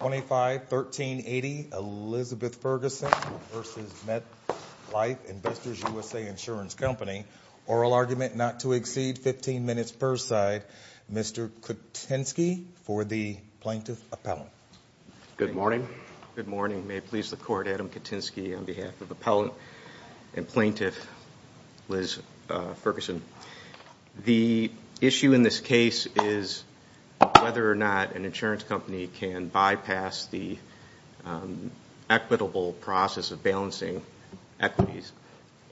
25-13-80 Elizabeth Ferguson v. Metlife Investors USA Insurance Company Oral argument not to exceed 15 minutes per side Mr. Kutensky for the plaintiff appellant. Good morning. Good morning may it please the court Adam Kutensky on behalf of appellant and plaintiff Liz Ferguson. The issue in this case is whether or not an insurance company can bypass the equitable process of balancing equities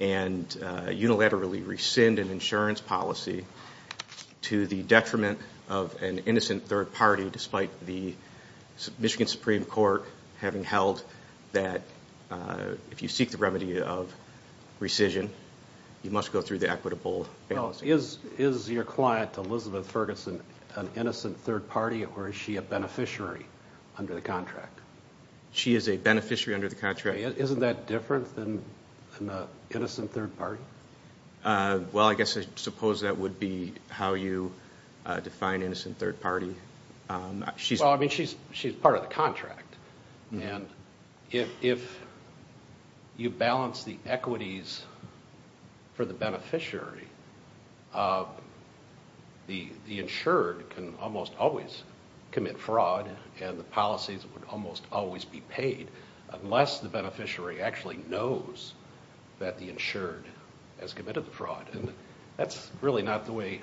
and unilaterally rescind an insurance policy to the detriment of an innocent third party despite the Michigan Supreme Court having held that if you seek the remedy of rescission you must go through the Is your client Elizabeth Ferguson an innocent third party or is she a beneficiary under the contract? She is a beneficiary under the contract. Isn't that different than an innocent third party? Well I guess I suppose that would be how you define innocent third party. She's part of the beneficiary. The the insured can almost always commit fraud and the policies would almost always be paid unless the beneficiary actually knows that the insured has committed the fraud and that's really not the way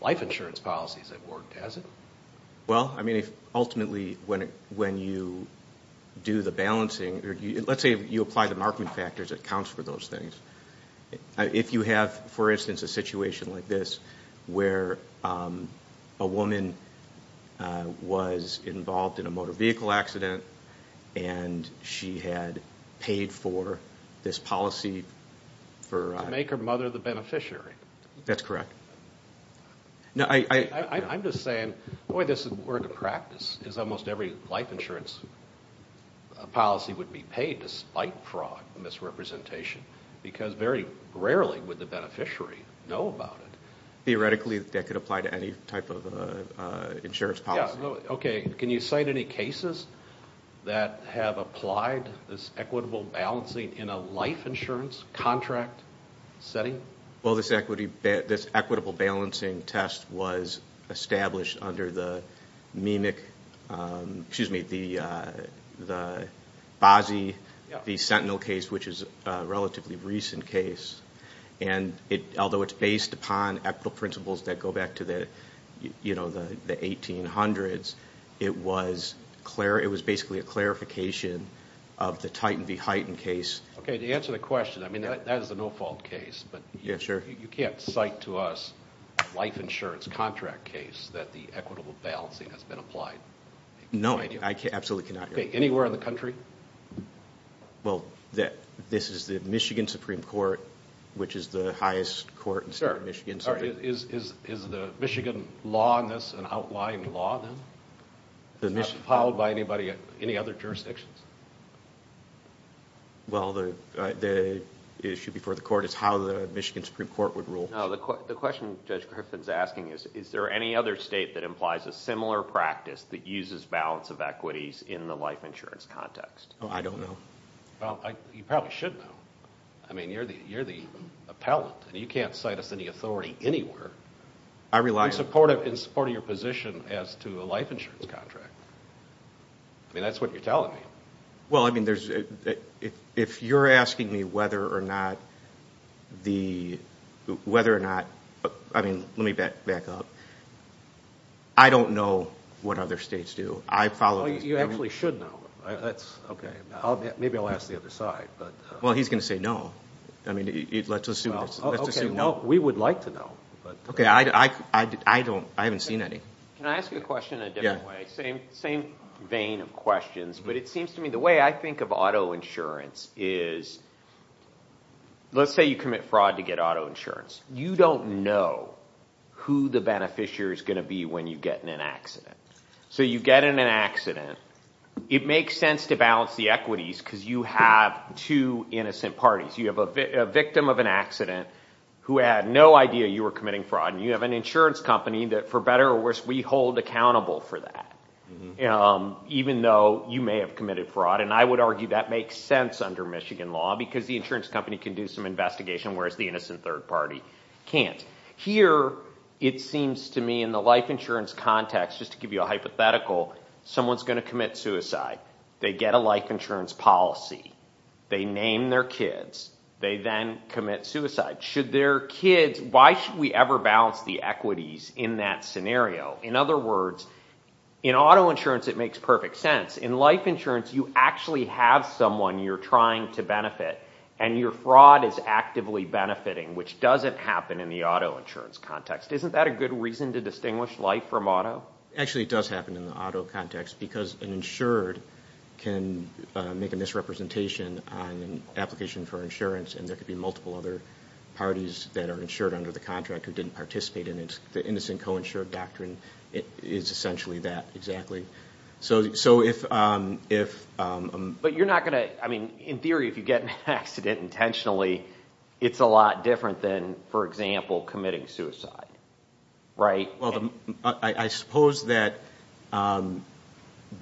life insurance policies have worked has it? Well I mean if ultimately when when you do the balancing or let's say you apply the Markman factors that counts for those things. If you have for instance a situation like this where a woman was involved in a motor vehicle accident and she had paid for this policy. To make her mother the beneficiary? That's correct. Now I'm just saying the way this has worked in practice is almost every life insurance policy would be paid despite fraud misrepresentation because very rarely would the beneficiary know about it. Theoretically that could apply to any type of insurance policy. Okay can you cite any cases that have applied this equitable balancing in a life insurance contract setting? Well this equity this equitable balancing test was established under the Mimic excuse me the the Bozzi the Sentinel case which is a relatively recent case and it although it's based upon equitable principles that go back to the you know the the 1800s it was clear it was basically a clarification of the Titan v Heighton case. Okay to answer the question I mean that is a no-fault case but you can't cite to us life insurance contract case that the equitable balancing has been applied? No I can't absolutely cannot. Anywhere in the country? Well that this is the Michigan Supreme Court which is the highest court in Michigan. Is the Michigan law in this an outlying law then? Not followed by anybody in any other jurisdictions? Well the the issue before the court is how the Michigan Supreme Court would rule. The question Judge Griffin's asking is is there any other state that implies a similar practice that uses balance of equities in the life insurance context? I don't know. Well you probably should know. I mean you're the you're the appellant and you can't cite us any authority anywhere. I rely supportive in supporting your position as to a life insurance contract. I mean that's what you're telling me. Well I mean there's if you're asking me whether or not the whether or not I mean let me back up. I don't know what other states do. I follow. You actually should know. That's okay. Maybe I'll ask the other side. Well he's gonna say no. I mean let's assume. No we would like to know. Okay I don't I haven't seen any. Can I ask you a question in a different way? Same same vein of questions but it seems to me the way I think of auto insurance is let's say you commit fraud to get auto insurance. You don't know who the beneficiary is gonna be when you get in an accident. So you get in an accident. It makes sense to balance the equities because you have two innocent parties. You have a victim of an accident who had no idea you were committing fraud and you have an insurance company that for better or worse we hold accountable for that. You know even though you may have committed fraud and I would argue that makes sense under Michigan law because the insurance company can do some investigation whereas the innocent third party can't. Here it seems to me in the life insurance context just to give you a hypothetical someone's gonna commit suicide. They get a life insurance policy. They name their kids. They then commit suicide. Should their kids, why should we ever balance the equities in that scenario? In other words in auto insurance it makes perfect sense. In life insurance you actually have someone you're trying to benefit and your fraud is actively benefiting which doesn't happen in the auto insurance context. Isn't that a good reason to distinguish life from auto? Actually it does happen in the auto context because an insured can make a misrepresentation on an application for insurance and there could be multiple other parties that are insured under the contract who didn't participate in it. The innocent but you're not gonna I mean in theory if you get an accident intentionally it's a lot different than for example committing suicide right? Well I suppose that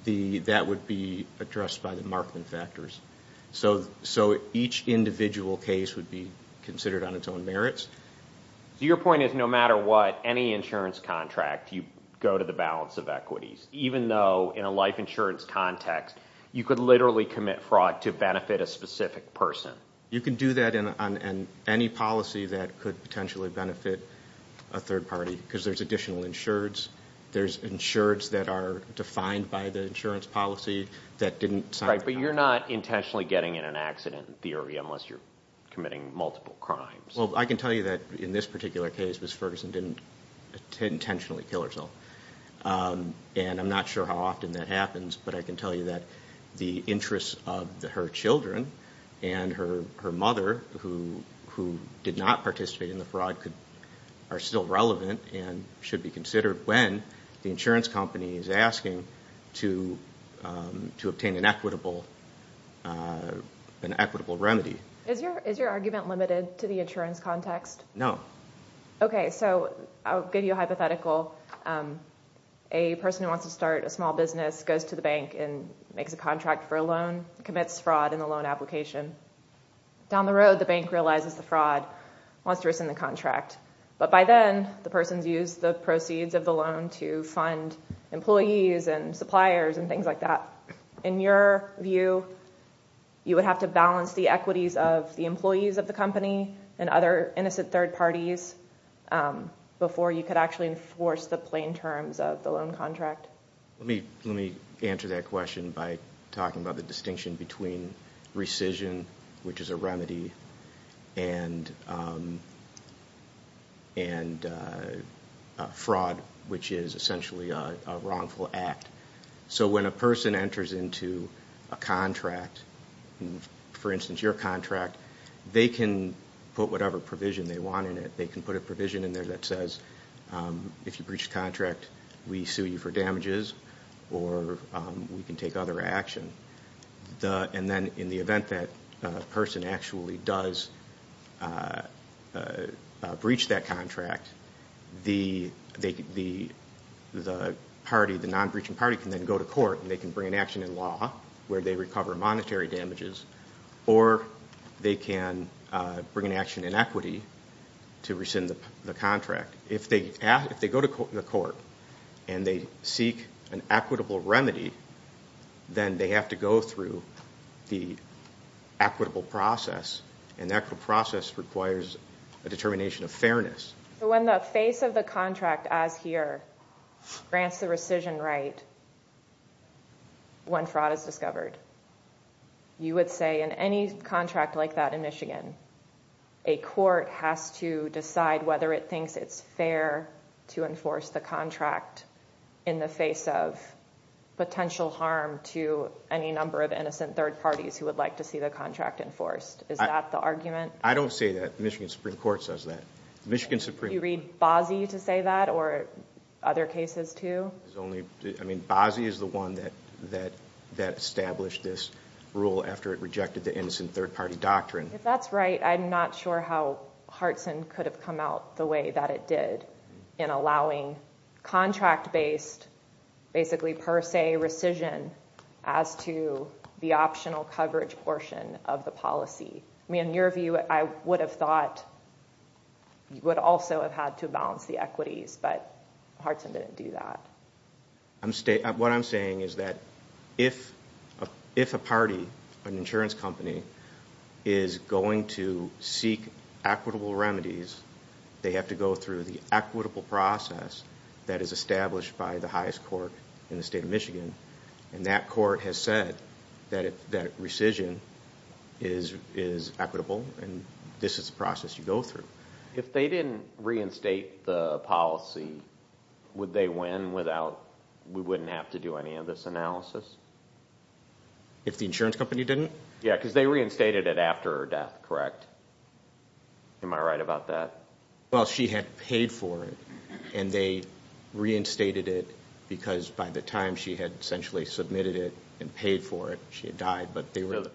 the that would be addressed by the markman factors. So each individual case would be considered on its own merits. Your point is no matter what any insurance contract you go to the balance of equities even though in a life insurance context you could literally commit fraud to benefit a specific person. You can do that in on any policy that could potentially benefit a third party because there's additional insureds. There's insureds that are defined by the insurance policy that didn't sign. Right but you're not intentionally getting in an accident in theory unless you're committing multiple crimes. Well I can tell you that in this particular case Ms. Ferguson didn't intentionally kill herself and I'm not sure how often that happens but I can tell you that the interests of her children and her mother who did not participate in the fraud could are still relevant and should be considered when the insurance company is asking to obtain an equitable remedy. Is your argument limited to the insurance context? No. Okay so I'll give you a hypothetical. A person who wants to start a small business goes to the bank and makes a contract for a loan, commits fraud in the loan application. Down the road the bank realizes the fraud, wants to rescind the contract but by then the person's used the proceeds of the loan to fund employees and suppliers and things like that. In your view you would have to balance the equities of the employees of the company and other innocent third parties before you could actually enforce the plain terms of the loan contract? Let me answer that question by talking about the distinction between rescission which is a remedy and fraud which is essentially a wrongful act. So when a person enters into a contract, for instance your contract, they can put whatever provision they want in it. They can put a provision in there that says if you breach the contract we sue you for damages or we can take other action. And then in the event that person actually does breach that contract, the non-breaching party can then go to court and they can bring an action in law where they recover monetary damages or they can bring an action in equity to rescind the contract. If they go to court and they seek an equitable remedy then they have to go through the equitable process and that process requires a determination of fairness. When the face of the contract as here grants the rescission right when fraud is discovered, you would say in any contract like that in Michigan a court has to decide whether it thinks it's fair to enforce the contract in the face of potential harm to any number of innocent third parties who would like to see the contract enforced. Is that the argument? I don't say that. Michigan Supreme Court says that. Michigan Supreme Court says that. Other cases too? Bozzi is the one that established this rule after it rejected the innocent third party doctrine. If that's right, I'm not sure how Hartson could have come out the way that it did in allowing contract based, basically per se rescission as to the optional coverage portion of the policy. In your view, I would have thought you would also have had to balance the equities but Hartson didn't do that. What I'm saying is that if a party, an insurance company, is going to seek equitable remedies they have to go through the equitable process that is established by the highest court in the state of Michigan and that court has said that rescission is equitable and this is the process you go through. If they didn't reinstate the policy, would they win without, we wouldn't have to do any of this analysis? If the insurance company didn't? Yeah, because they reinstated it after her death, correct? Am I right about that? Well, she had paid for it and they reinstated it because by the time she had essentially submitted it and paid for it, she had died. The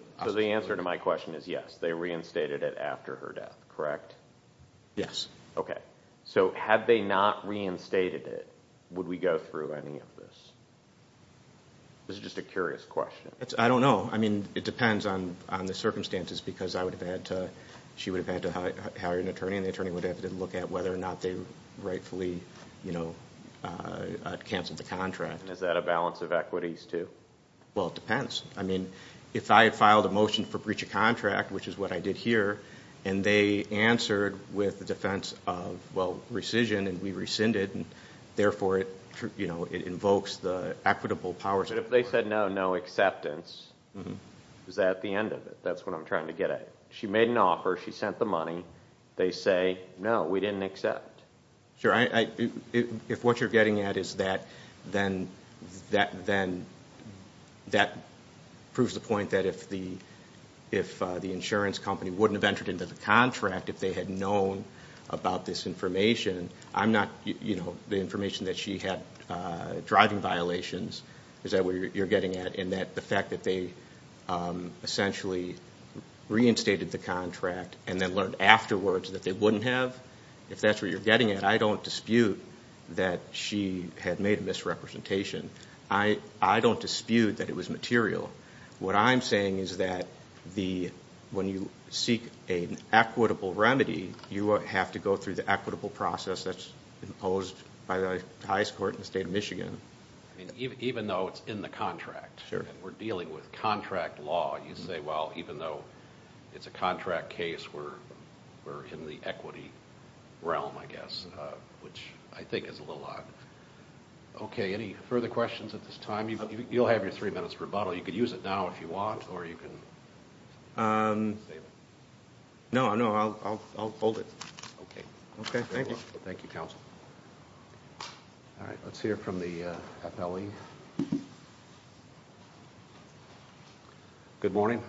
answer to my question is yes, they reinstated it after her death, correct? Yes. Okay. Had they not reinstated it, would we go through any of this? This is just a curious question. I don't know. It depends on the circumstances because I would have had to, she would have had to hire an attorney and the attorney would have to look at whether or not they rightfully canceled the contract. Is that a balance of equities too? Well, it depends. I mean, if I had filed a motion for breach of contract, which is what I did here, and they answered with the defense of, well, rescission and we rescinded and therefore it invokes the equitable powers of the court. But if they said no, no acceptance, is that the end of it? That's what I'm trying to get at. She made an offer, she sent the money, they say, no, we didn't accept. Sure. If what you're getting at is that, then that proves the point that if the insurance company wouldn't have entered into the contract if they had known about this information, I'm not, you know, the information that she had driving violations, is that what you're getting at? And that the fact that they essentially reinstated the contract and then learned afterwards that they wouldn't have? If that's what you're getting at, I don't dispute that she had made a misrepresentation. I don't dispute that it was material. What I'm saying is that when you seek an equitable remedy, you have to go through the equitable process that's imposed by the highest court in the state of Michigan. I mean, even though it's in the contract and we're dealing with contract law, you say, well, even though it's a contract case, we're in the equity realm, I guess, which I think is a little odd. Okay. Any further questions at this time? You'll have your three minutes rebuttal. You could use it now if you want, or you can... No, no, I'll hold it. Okay. Okay. Thank you. Thank you, counsel. All right. Let's hear from the Appellee. Good morning.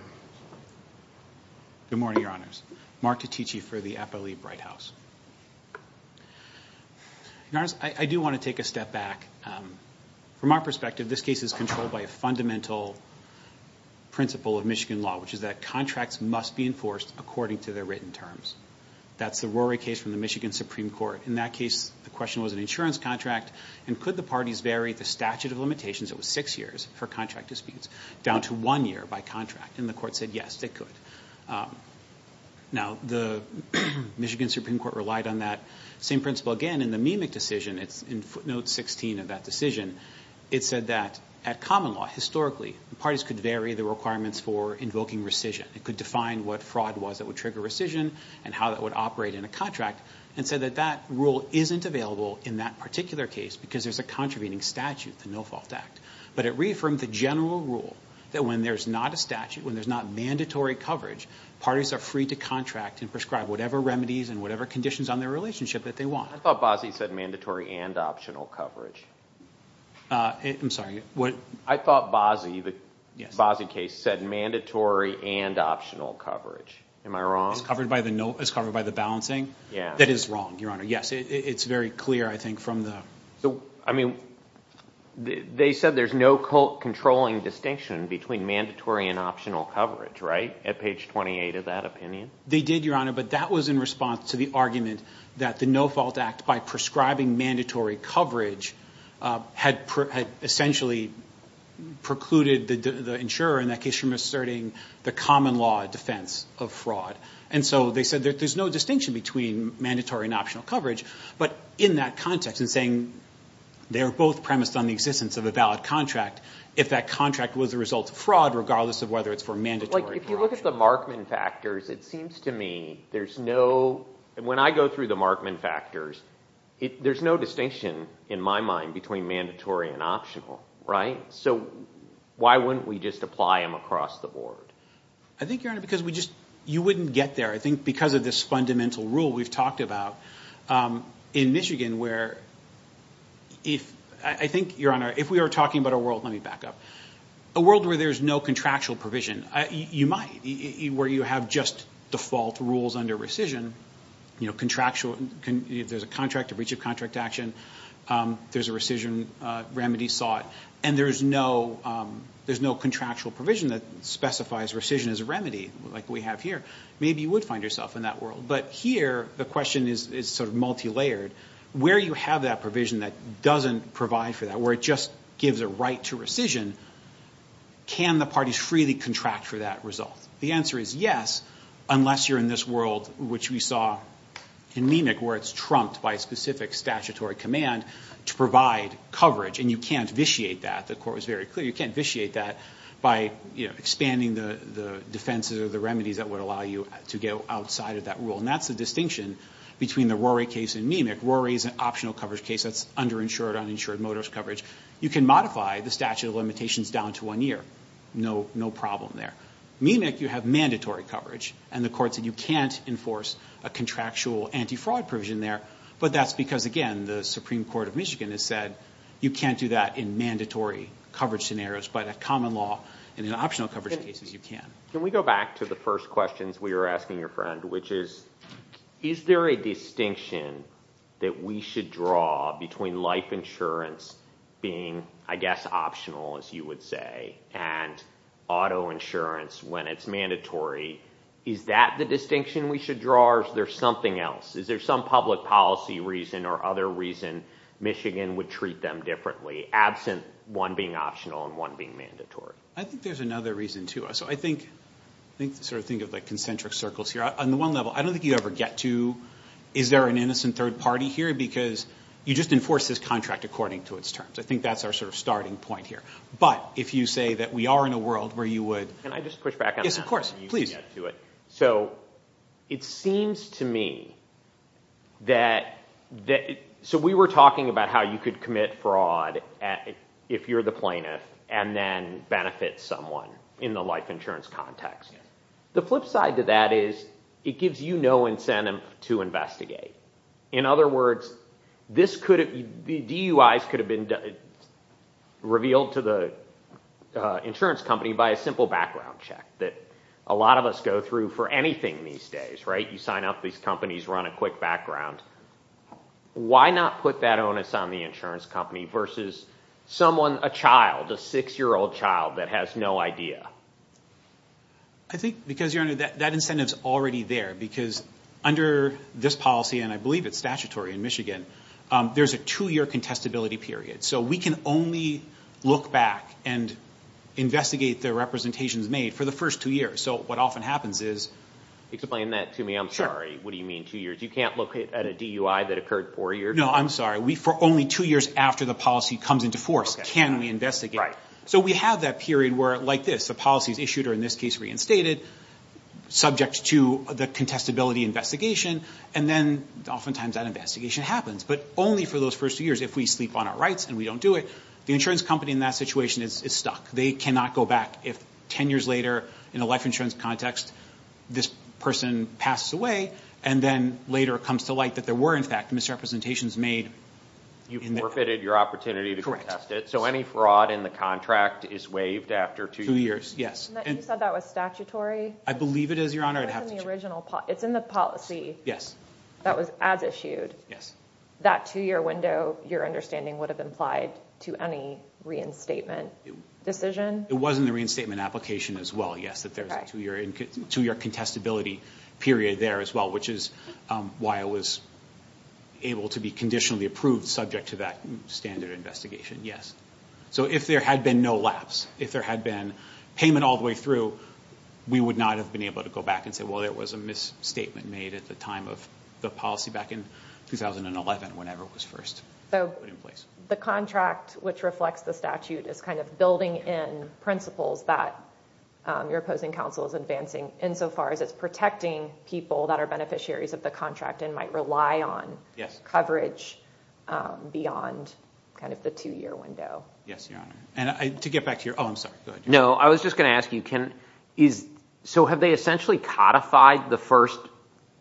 Good morning, Your Honors. Mark Titici for the Appellee Bright House. Your Honors, I do want to take a step back. From our perspective, this case is controlled by a fundamental principle of Michigan law, which is that contracts must be enforced according to their written terms. That's the Rory case from the Michigan Supreme Court. In that case, the question was an insurance contract, and could the parties vary the statute of limitations, it was six years for contract disputes, down to one year by contract? And the court said, yes, they could. Now, the Michigan Supreme Court relied on that same principle again in the Mimic decision. It's in footnote 16 of that decision. It said that at common law, historically, the parties could vary the requirements for invoking rescission. It could define what fraud was that would trigger rescission and how that would operate in a contract, and said that that rule isn't available in that particular case because there's a contravening statute, the No Fault Act. But it reaffirmed the general rule that when there's not a statute, when there's not mandatory coverage, parties are free to contract and prescribe whatever remedies and whatever conditions on their relationship that they want. I thought Bozzi said mandatory and optional coverage. I'm sorry, what? I thought Bozzi, the Bozzi case, said mandatory and optional coverage. Am I wrong? It's covered by the balancing? Yeah. That is wrong, Your Honor. Yes, it's very clear, I think, from the... I mean, they said there's no controlling distinction between mandatory and optional coverage, right, at page 28 of that opinion? They did, Your Honor, but that was in response to the argument that the No Fault Act, by prescribing mandatory coverage, had essentially precluded the insurer, in that case, from asserting the common law defense of fraud. And so they said that there's no distinction between mandatory and optional coverage. But in that context, in saying they're both premised on the existence of a valid contract, if that contract was a result of fraud, regardless of whether it's for mandatory or optional. Like, if you look at the Markman factors, it seems to me there's no... When I go through the Markman factors, there's no distinction, in my mind, between mandatory and optional, right? So why wouldn't we just apply them across the board? I think, Your Honor, because we just... You wouldn't get there. I think because of this fundamental rule we've talked about in Michigan, where if... I think, Your Honor, if we are talking about a world... Let me back up. A world where there's no contractual provision, you might, where you have just default rules under rescission, contractual... If there's a contract, a breach of contract action, there's a rescission remedy sought, and there's no contractual provision that specifies rescission as a remedy, like we have here. Maybe you would find yourself in that world. But here, the question is sort of multi layered. Where you have that provision that doesn't provide for that, where it just gives a right to rescission, can the parties freely contract for that result? The answer is yes, unless you're in this world, which we saw in Mimic, where it's trumped by a specific statutory command to provide coverage, and you can't vitiate that. The court was very clear, you can't vitiate that by expanding the defenses or the remedies that would allow you to go outside of that rule. And that's the distinction between the Rory case and Mimic. Rory is an optional coverage case, that's under insured, uninsured motorist coverage. You can modify the statute of limitations down to one year, no problem there. Mimic, you have mandatory coverage, and the court said you can't enforce a contractual anti fraud provision there, but that's because, again, the Supreme Court of Michigan has said, you can't do that in mandatory coverage scenarios, but at common law, in optional coverage cases, you can. Can we go back to the first questions we were asking your friend, which is, is there a distinction that we should draw between life insurance being, I guess, optional, as you would say, and auto insurance when it's mandatory? Is that the distinction we should draw, or is there something else? Is there some public policy reason or other reason Michigan would treat them differently, absent one being optional and one being mandatory? I think there's another reason, too. I think, sort of think of concentric circles here. On the one level, I don't think you ever get to, is there an innocent third party here? Because you just enforce this contract according to its terms. I think that's our sort of starting point here. But if you say that we are in a world where you would... Can I just push back on that? Yes, of course. Please. So it seems to me that... So we were talking about how you could commit fraud if you're the plaintiff and then benefit someone in the life insurance context. The flip side to that is it gives you no incentive to investigate. In other words, DUIs could have been revealed to the insurance company by a simple background check that a lot of us go through for anything these days, right? You sign up, these companies run a quick background. Why not put that onus on the insurance company versus someone, a child, a six year old child that has no idea? I think because, Your Honor, that incentive's already there because under this policy, and I believe it's statutory in Michigan, there's a two year contestability period. So we can only look back and investigate the representations made for the first two years. So what often happens is... Explain that to me. I'm sorry. What do you mean two years? You can't look at a DUI that occurred four years ago? No, I'm sorry. For only two years after the policy comes into force can we investigate? Right. So we have that period where, like this, the policy is issued or in this case reinstated, subject to the contestability investigation, and then oftentimes that investigation happens. But only for those first two years, if we sleep on our rights and we don't do it, the insurance company in that situation is stuck. They cannot go back if 10 years later in a life insurance context, this person passes away, and then later it comes to light that there were, in fact, misrepresentations made. You've forfeited your opportunity to contest it. Correct. So any fraud in the contract is waived after two years? Two years, yes. You said that was statutory? I believe it is, Your Honor. It's in the policy that was as issued. Yes. That two year window, your understanding, would have implied to any reinstatement decision? It was in the reinstatement application as well, yes, that there was a two year contestability period there as well, which is why it was able to be conditionally approved subject to that standard investigation. Yes. So if there had been no lapse, if there had been payment all the way through, we would not have been able to go back and say, well, there was a misstatement made at the time of the policy back in 2011, whenever it was first put in place. So the contract which reflects the statute is kind of building in principles that your opposing counsel is advancing insofar as it's protecting people that are beneficiaries of the contract and might rely on coverage beyond kind of the two year window. Yes, Your Honor. And to get back to your... Oh, I'm sorry, go ahead. No, I was just gonna ask you, so have they essentially codified the first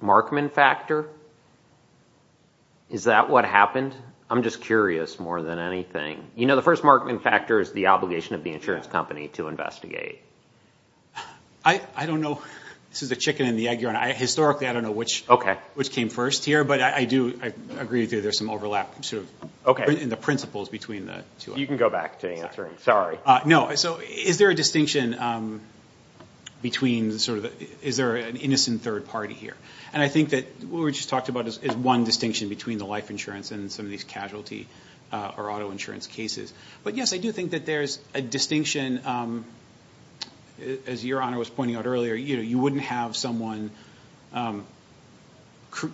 markman factor? Is that what happened? I'm just curious more than anything. The first markman factor is the obligation of the insurance company to investigate. I don't know. This is the chicken and the egg, Your Honor. Historically, I don't know which came first here, but I do agree that there's some overlap in the principles between the two. You can go back to answering. Sorry. No. So is there a distinction between sort of... Is there an innocent third party here? And I think that what we just talked about is one distinction between the life insurance and some of these casualty or auto insurance cases. But yes, I do think that there's a distinction as Your Honor was pointing out earlier. You wouldn't have someone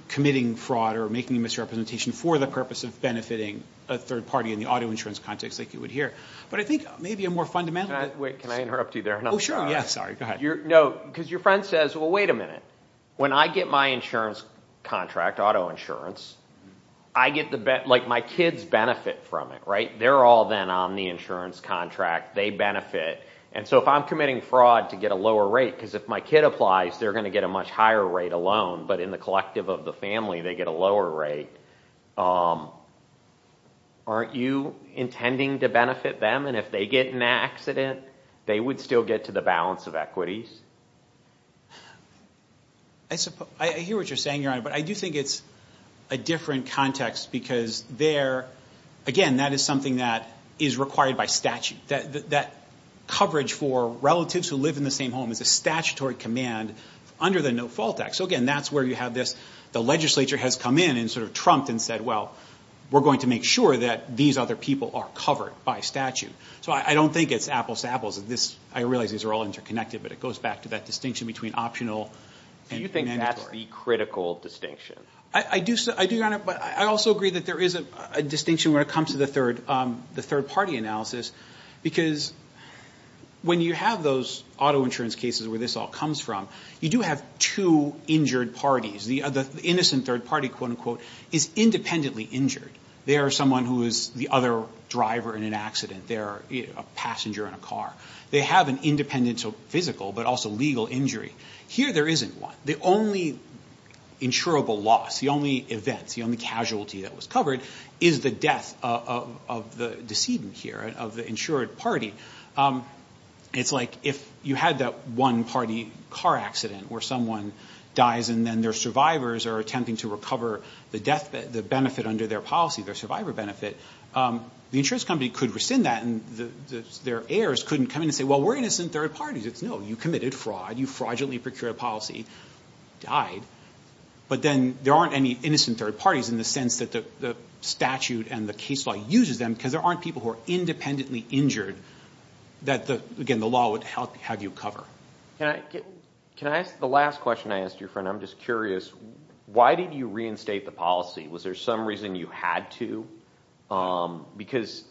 committing fraud or making a misrepresentation for the purpose of benefiting a third party in the auto insurance context like you would here. But I think maybe a more fundamental... Wait, can I interrupt you there? Oh, sure. Yeah, sorry. Go ahead. No, because your friend says, well, wait a minute. When I get my insurance contract, auto insurance, I get the... My kids benefit from it, right? They're all then on the insurance contract. They benefit. And so if I'm committing fraud to get a lower rate, because if my kid applies, they're gonna get a much higher rate alone, but in the collective of the family, they get a lower rate. Aren't you intending to benefit them? And if they get in an accident, they would still get to the balance of equities? I hear what you're saying, Your Honor, but I do think it's a different context because there... Again, that is something that is required by statute. That coverage for relatives who live in the same home is a statutory command under the No Fault Act. So again, that's where you have this... The legislature has come in and sort of trumped and said, well, we're going to make sure that these other people are covered by statute. So I don't think it's apples to apples. I realize these are all interconnected, but it goes back to that distinction between optional and mandatory. Do you think that's the critical distinction? I do, Your Honor, but I also agree that there is a distinction when it comes to the third party analysis, because when you have those auto insurance cases where this all comes from, you do have two injured parties. The innocent third party, quote unquote, is independently injured. They are someone who is the other driver in an accident. They're a passenger in a car. They have an independent physical, but also legal injury. Here, there isn't one. The only insurable loss, the only events, the only casualty that was covered is the death of the decedent here, of the insured party. It's like if you had that one party car accident where someone dies and then their survivors are attempting to recover the benefit under their policy, their survivor benefit, the insurance company could rescind that and their heirs couldn't come in and say, well, we're innocent third parties. It's no, you committed fraud. You fraudulently procured a policy, died. But then there aren't any innocent third parties in the sense that the statute and the case law uses them because there aren't people who are independently injured that, again, the law would have you cover. Can I ask the last question I asked your friend? I'm just curious. Why did you reinstate the policy? Was there some reason you had to? Because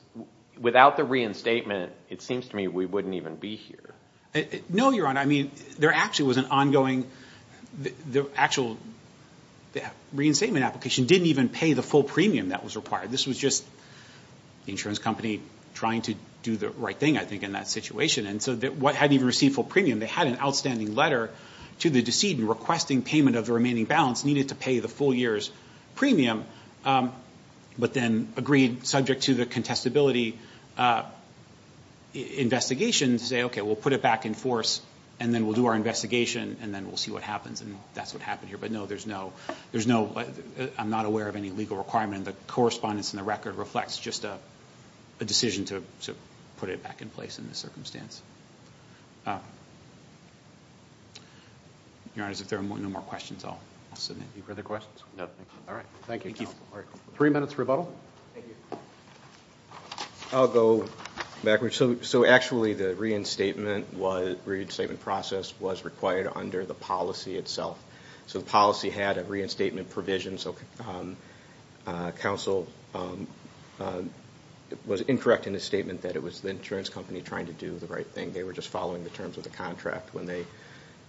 without the reinstatement, it seems to me we wouldn't even be here. No, Your Honor. I mean, there actually was an ongoing, the actual reinstatement application didn't even pay the full premium that was required. This was just the insurance company trying to do the right thing, I think, in that situation. And so what hadn't even received full premium, they had an outstanding letter to the decedent requesting payment of the remaining balance needed to pay the full year's premium, but then agreed subject to the contestability investigation to say, okay, we'll put it back in force and then we'll do our investigation and then we'll see what happens. And that's what happened here. But no, there's no... I'm not aware of any legal requirement. The correspondence and the record reflects just a decision to put it back in place in this circumstance. Your Honor, if there are no more questions, I'll submit. Any further questions? No, thank you. All right. Thank you, counsel. Three minutes rebuttal. Thank you. I'll go backwards. So actually, the reinstatement process was required under the policy itself. So the policy had a reinstatement provision, so counsel was incorrect in his statement that it was the insurance company trying to do the right thing. They were just following the terms of the contract when they...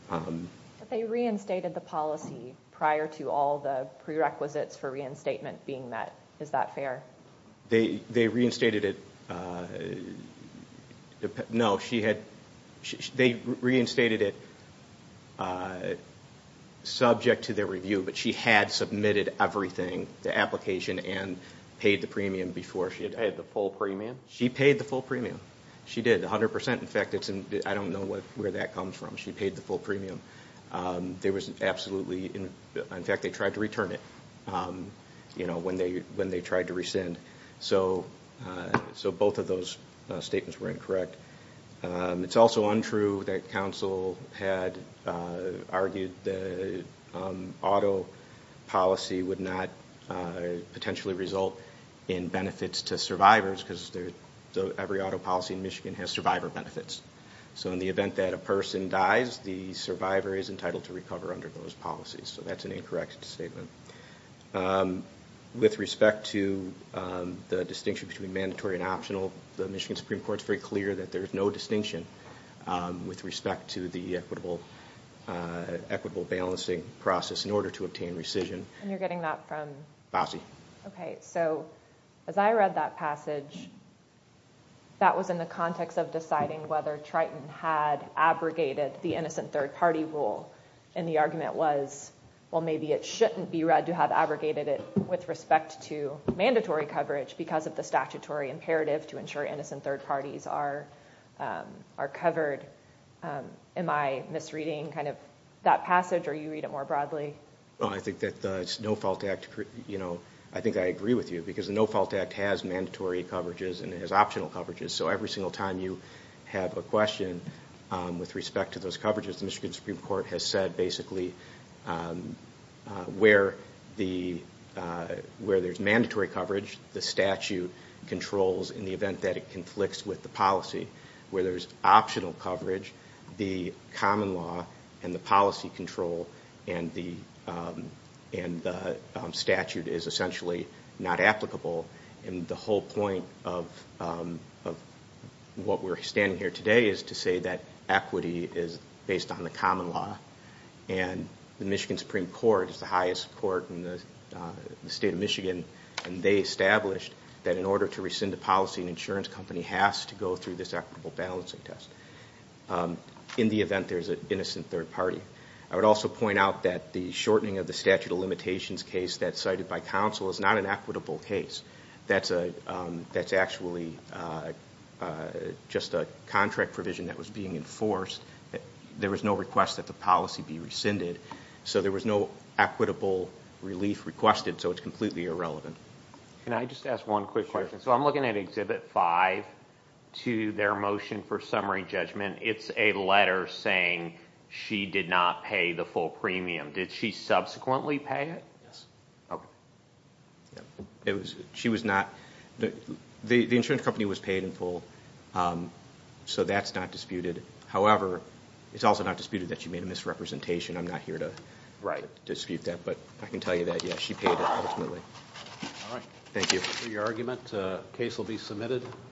But they reinstated the policy prior to all the prerequisites for reinstatement being met. Is that fair? They reinstated it... No, she had... They reinstated it subject to their review, but she had submitted everything, the application and paid the premium before she... Paid the full premium? She paid the full premium. She did, 100%. In fact, it's... I don't know where that comes from. She paid the full premium. There was absolutely... In fact, they tried to return it when they tried to rescind. So both of those statements were incorrect. It's also untrue that counsel had argued the auto policy would not potentially result in benefits to survivors, because every auto policy in Michigan has survivor benefits. So in the event that a person dies, the survivor is entitled to recover under those policies. So that's an incorrect statement. With respect to the distinction between mandatory and optional, the Michigan Supreme Court's very clear that there's no distinction with respect to the equitable balancing process in order to obtain rescission. And you're getting that from... Fossey. Okay, so as I read that passage, that was in the context of deciding whether Triton had abrogated the innocent third party rule. And the argument was, well, maybe it shouldn't be read to have abrogated it with respect to mandatory coverage because of the statutory imperative to ensure innocent third parties are covered. Am I misreading that passage or you read it more broadly? Well, I think that the No Fault Act... I think I agree with you, because the No Fault Act has mandatory coverages and it has optional coverages. So every single time you have a question with respect to those coverages, the Michigan Supreme Court has said basically, where there's mandatory coverage, the statute controls in the event that it conflicts with the policy. Where there's optional coverage, the common law and the policy control and the statute is essentially not applicable. And the whole point of what we're standing here today is to say that equity is based on the common law. And the Michigan Supreme Court is the highest court in the state of Michigan, and they established that in order to rescind a policy, an insurance company has to go through this equitable balancing test in the event there's an innocent third party. I would also point out that the shortening of the statute of limitations case that's cited by counsel is not an equitable case. That's actually just a contract provision that was being enforced. There was no request that the policy be rescinded. So there was no equitable relief requested. So it's completely irrelevant. Can I just ask one quick question? So I'm looking at Exhibit 5 to their motion for summary judgment. It's a letter saying she did not pay the full premium. Did she subsequently pay it? Yes. Okay. She was not. The insurance company was paid in full, so that's not disputed. However, it's also not disputed that she made a misrepresentation. I'm not here to dispute that, but I can tell you that, yes, she paid it ultimately. All right. Thank you. For your argument, the case will be submitted.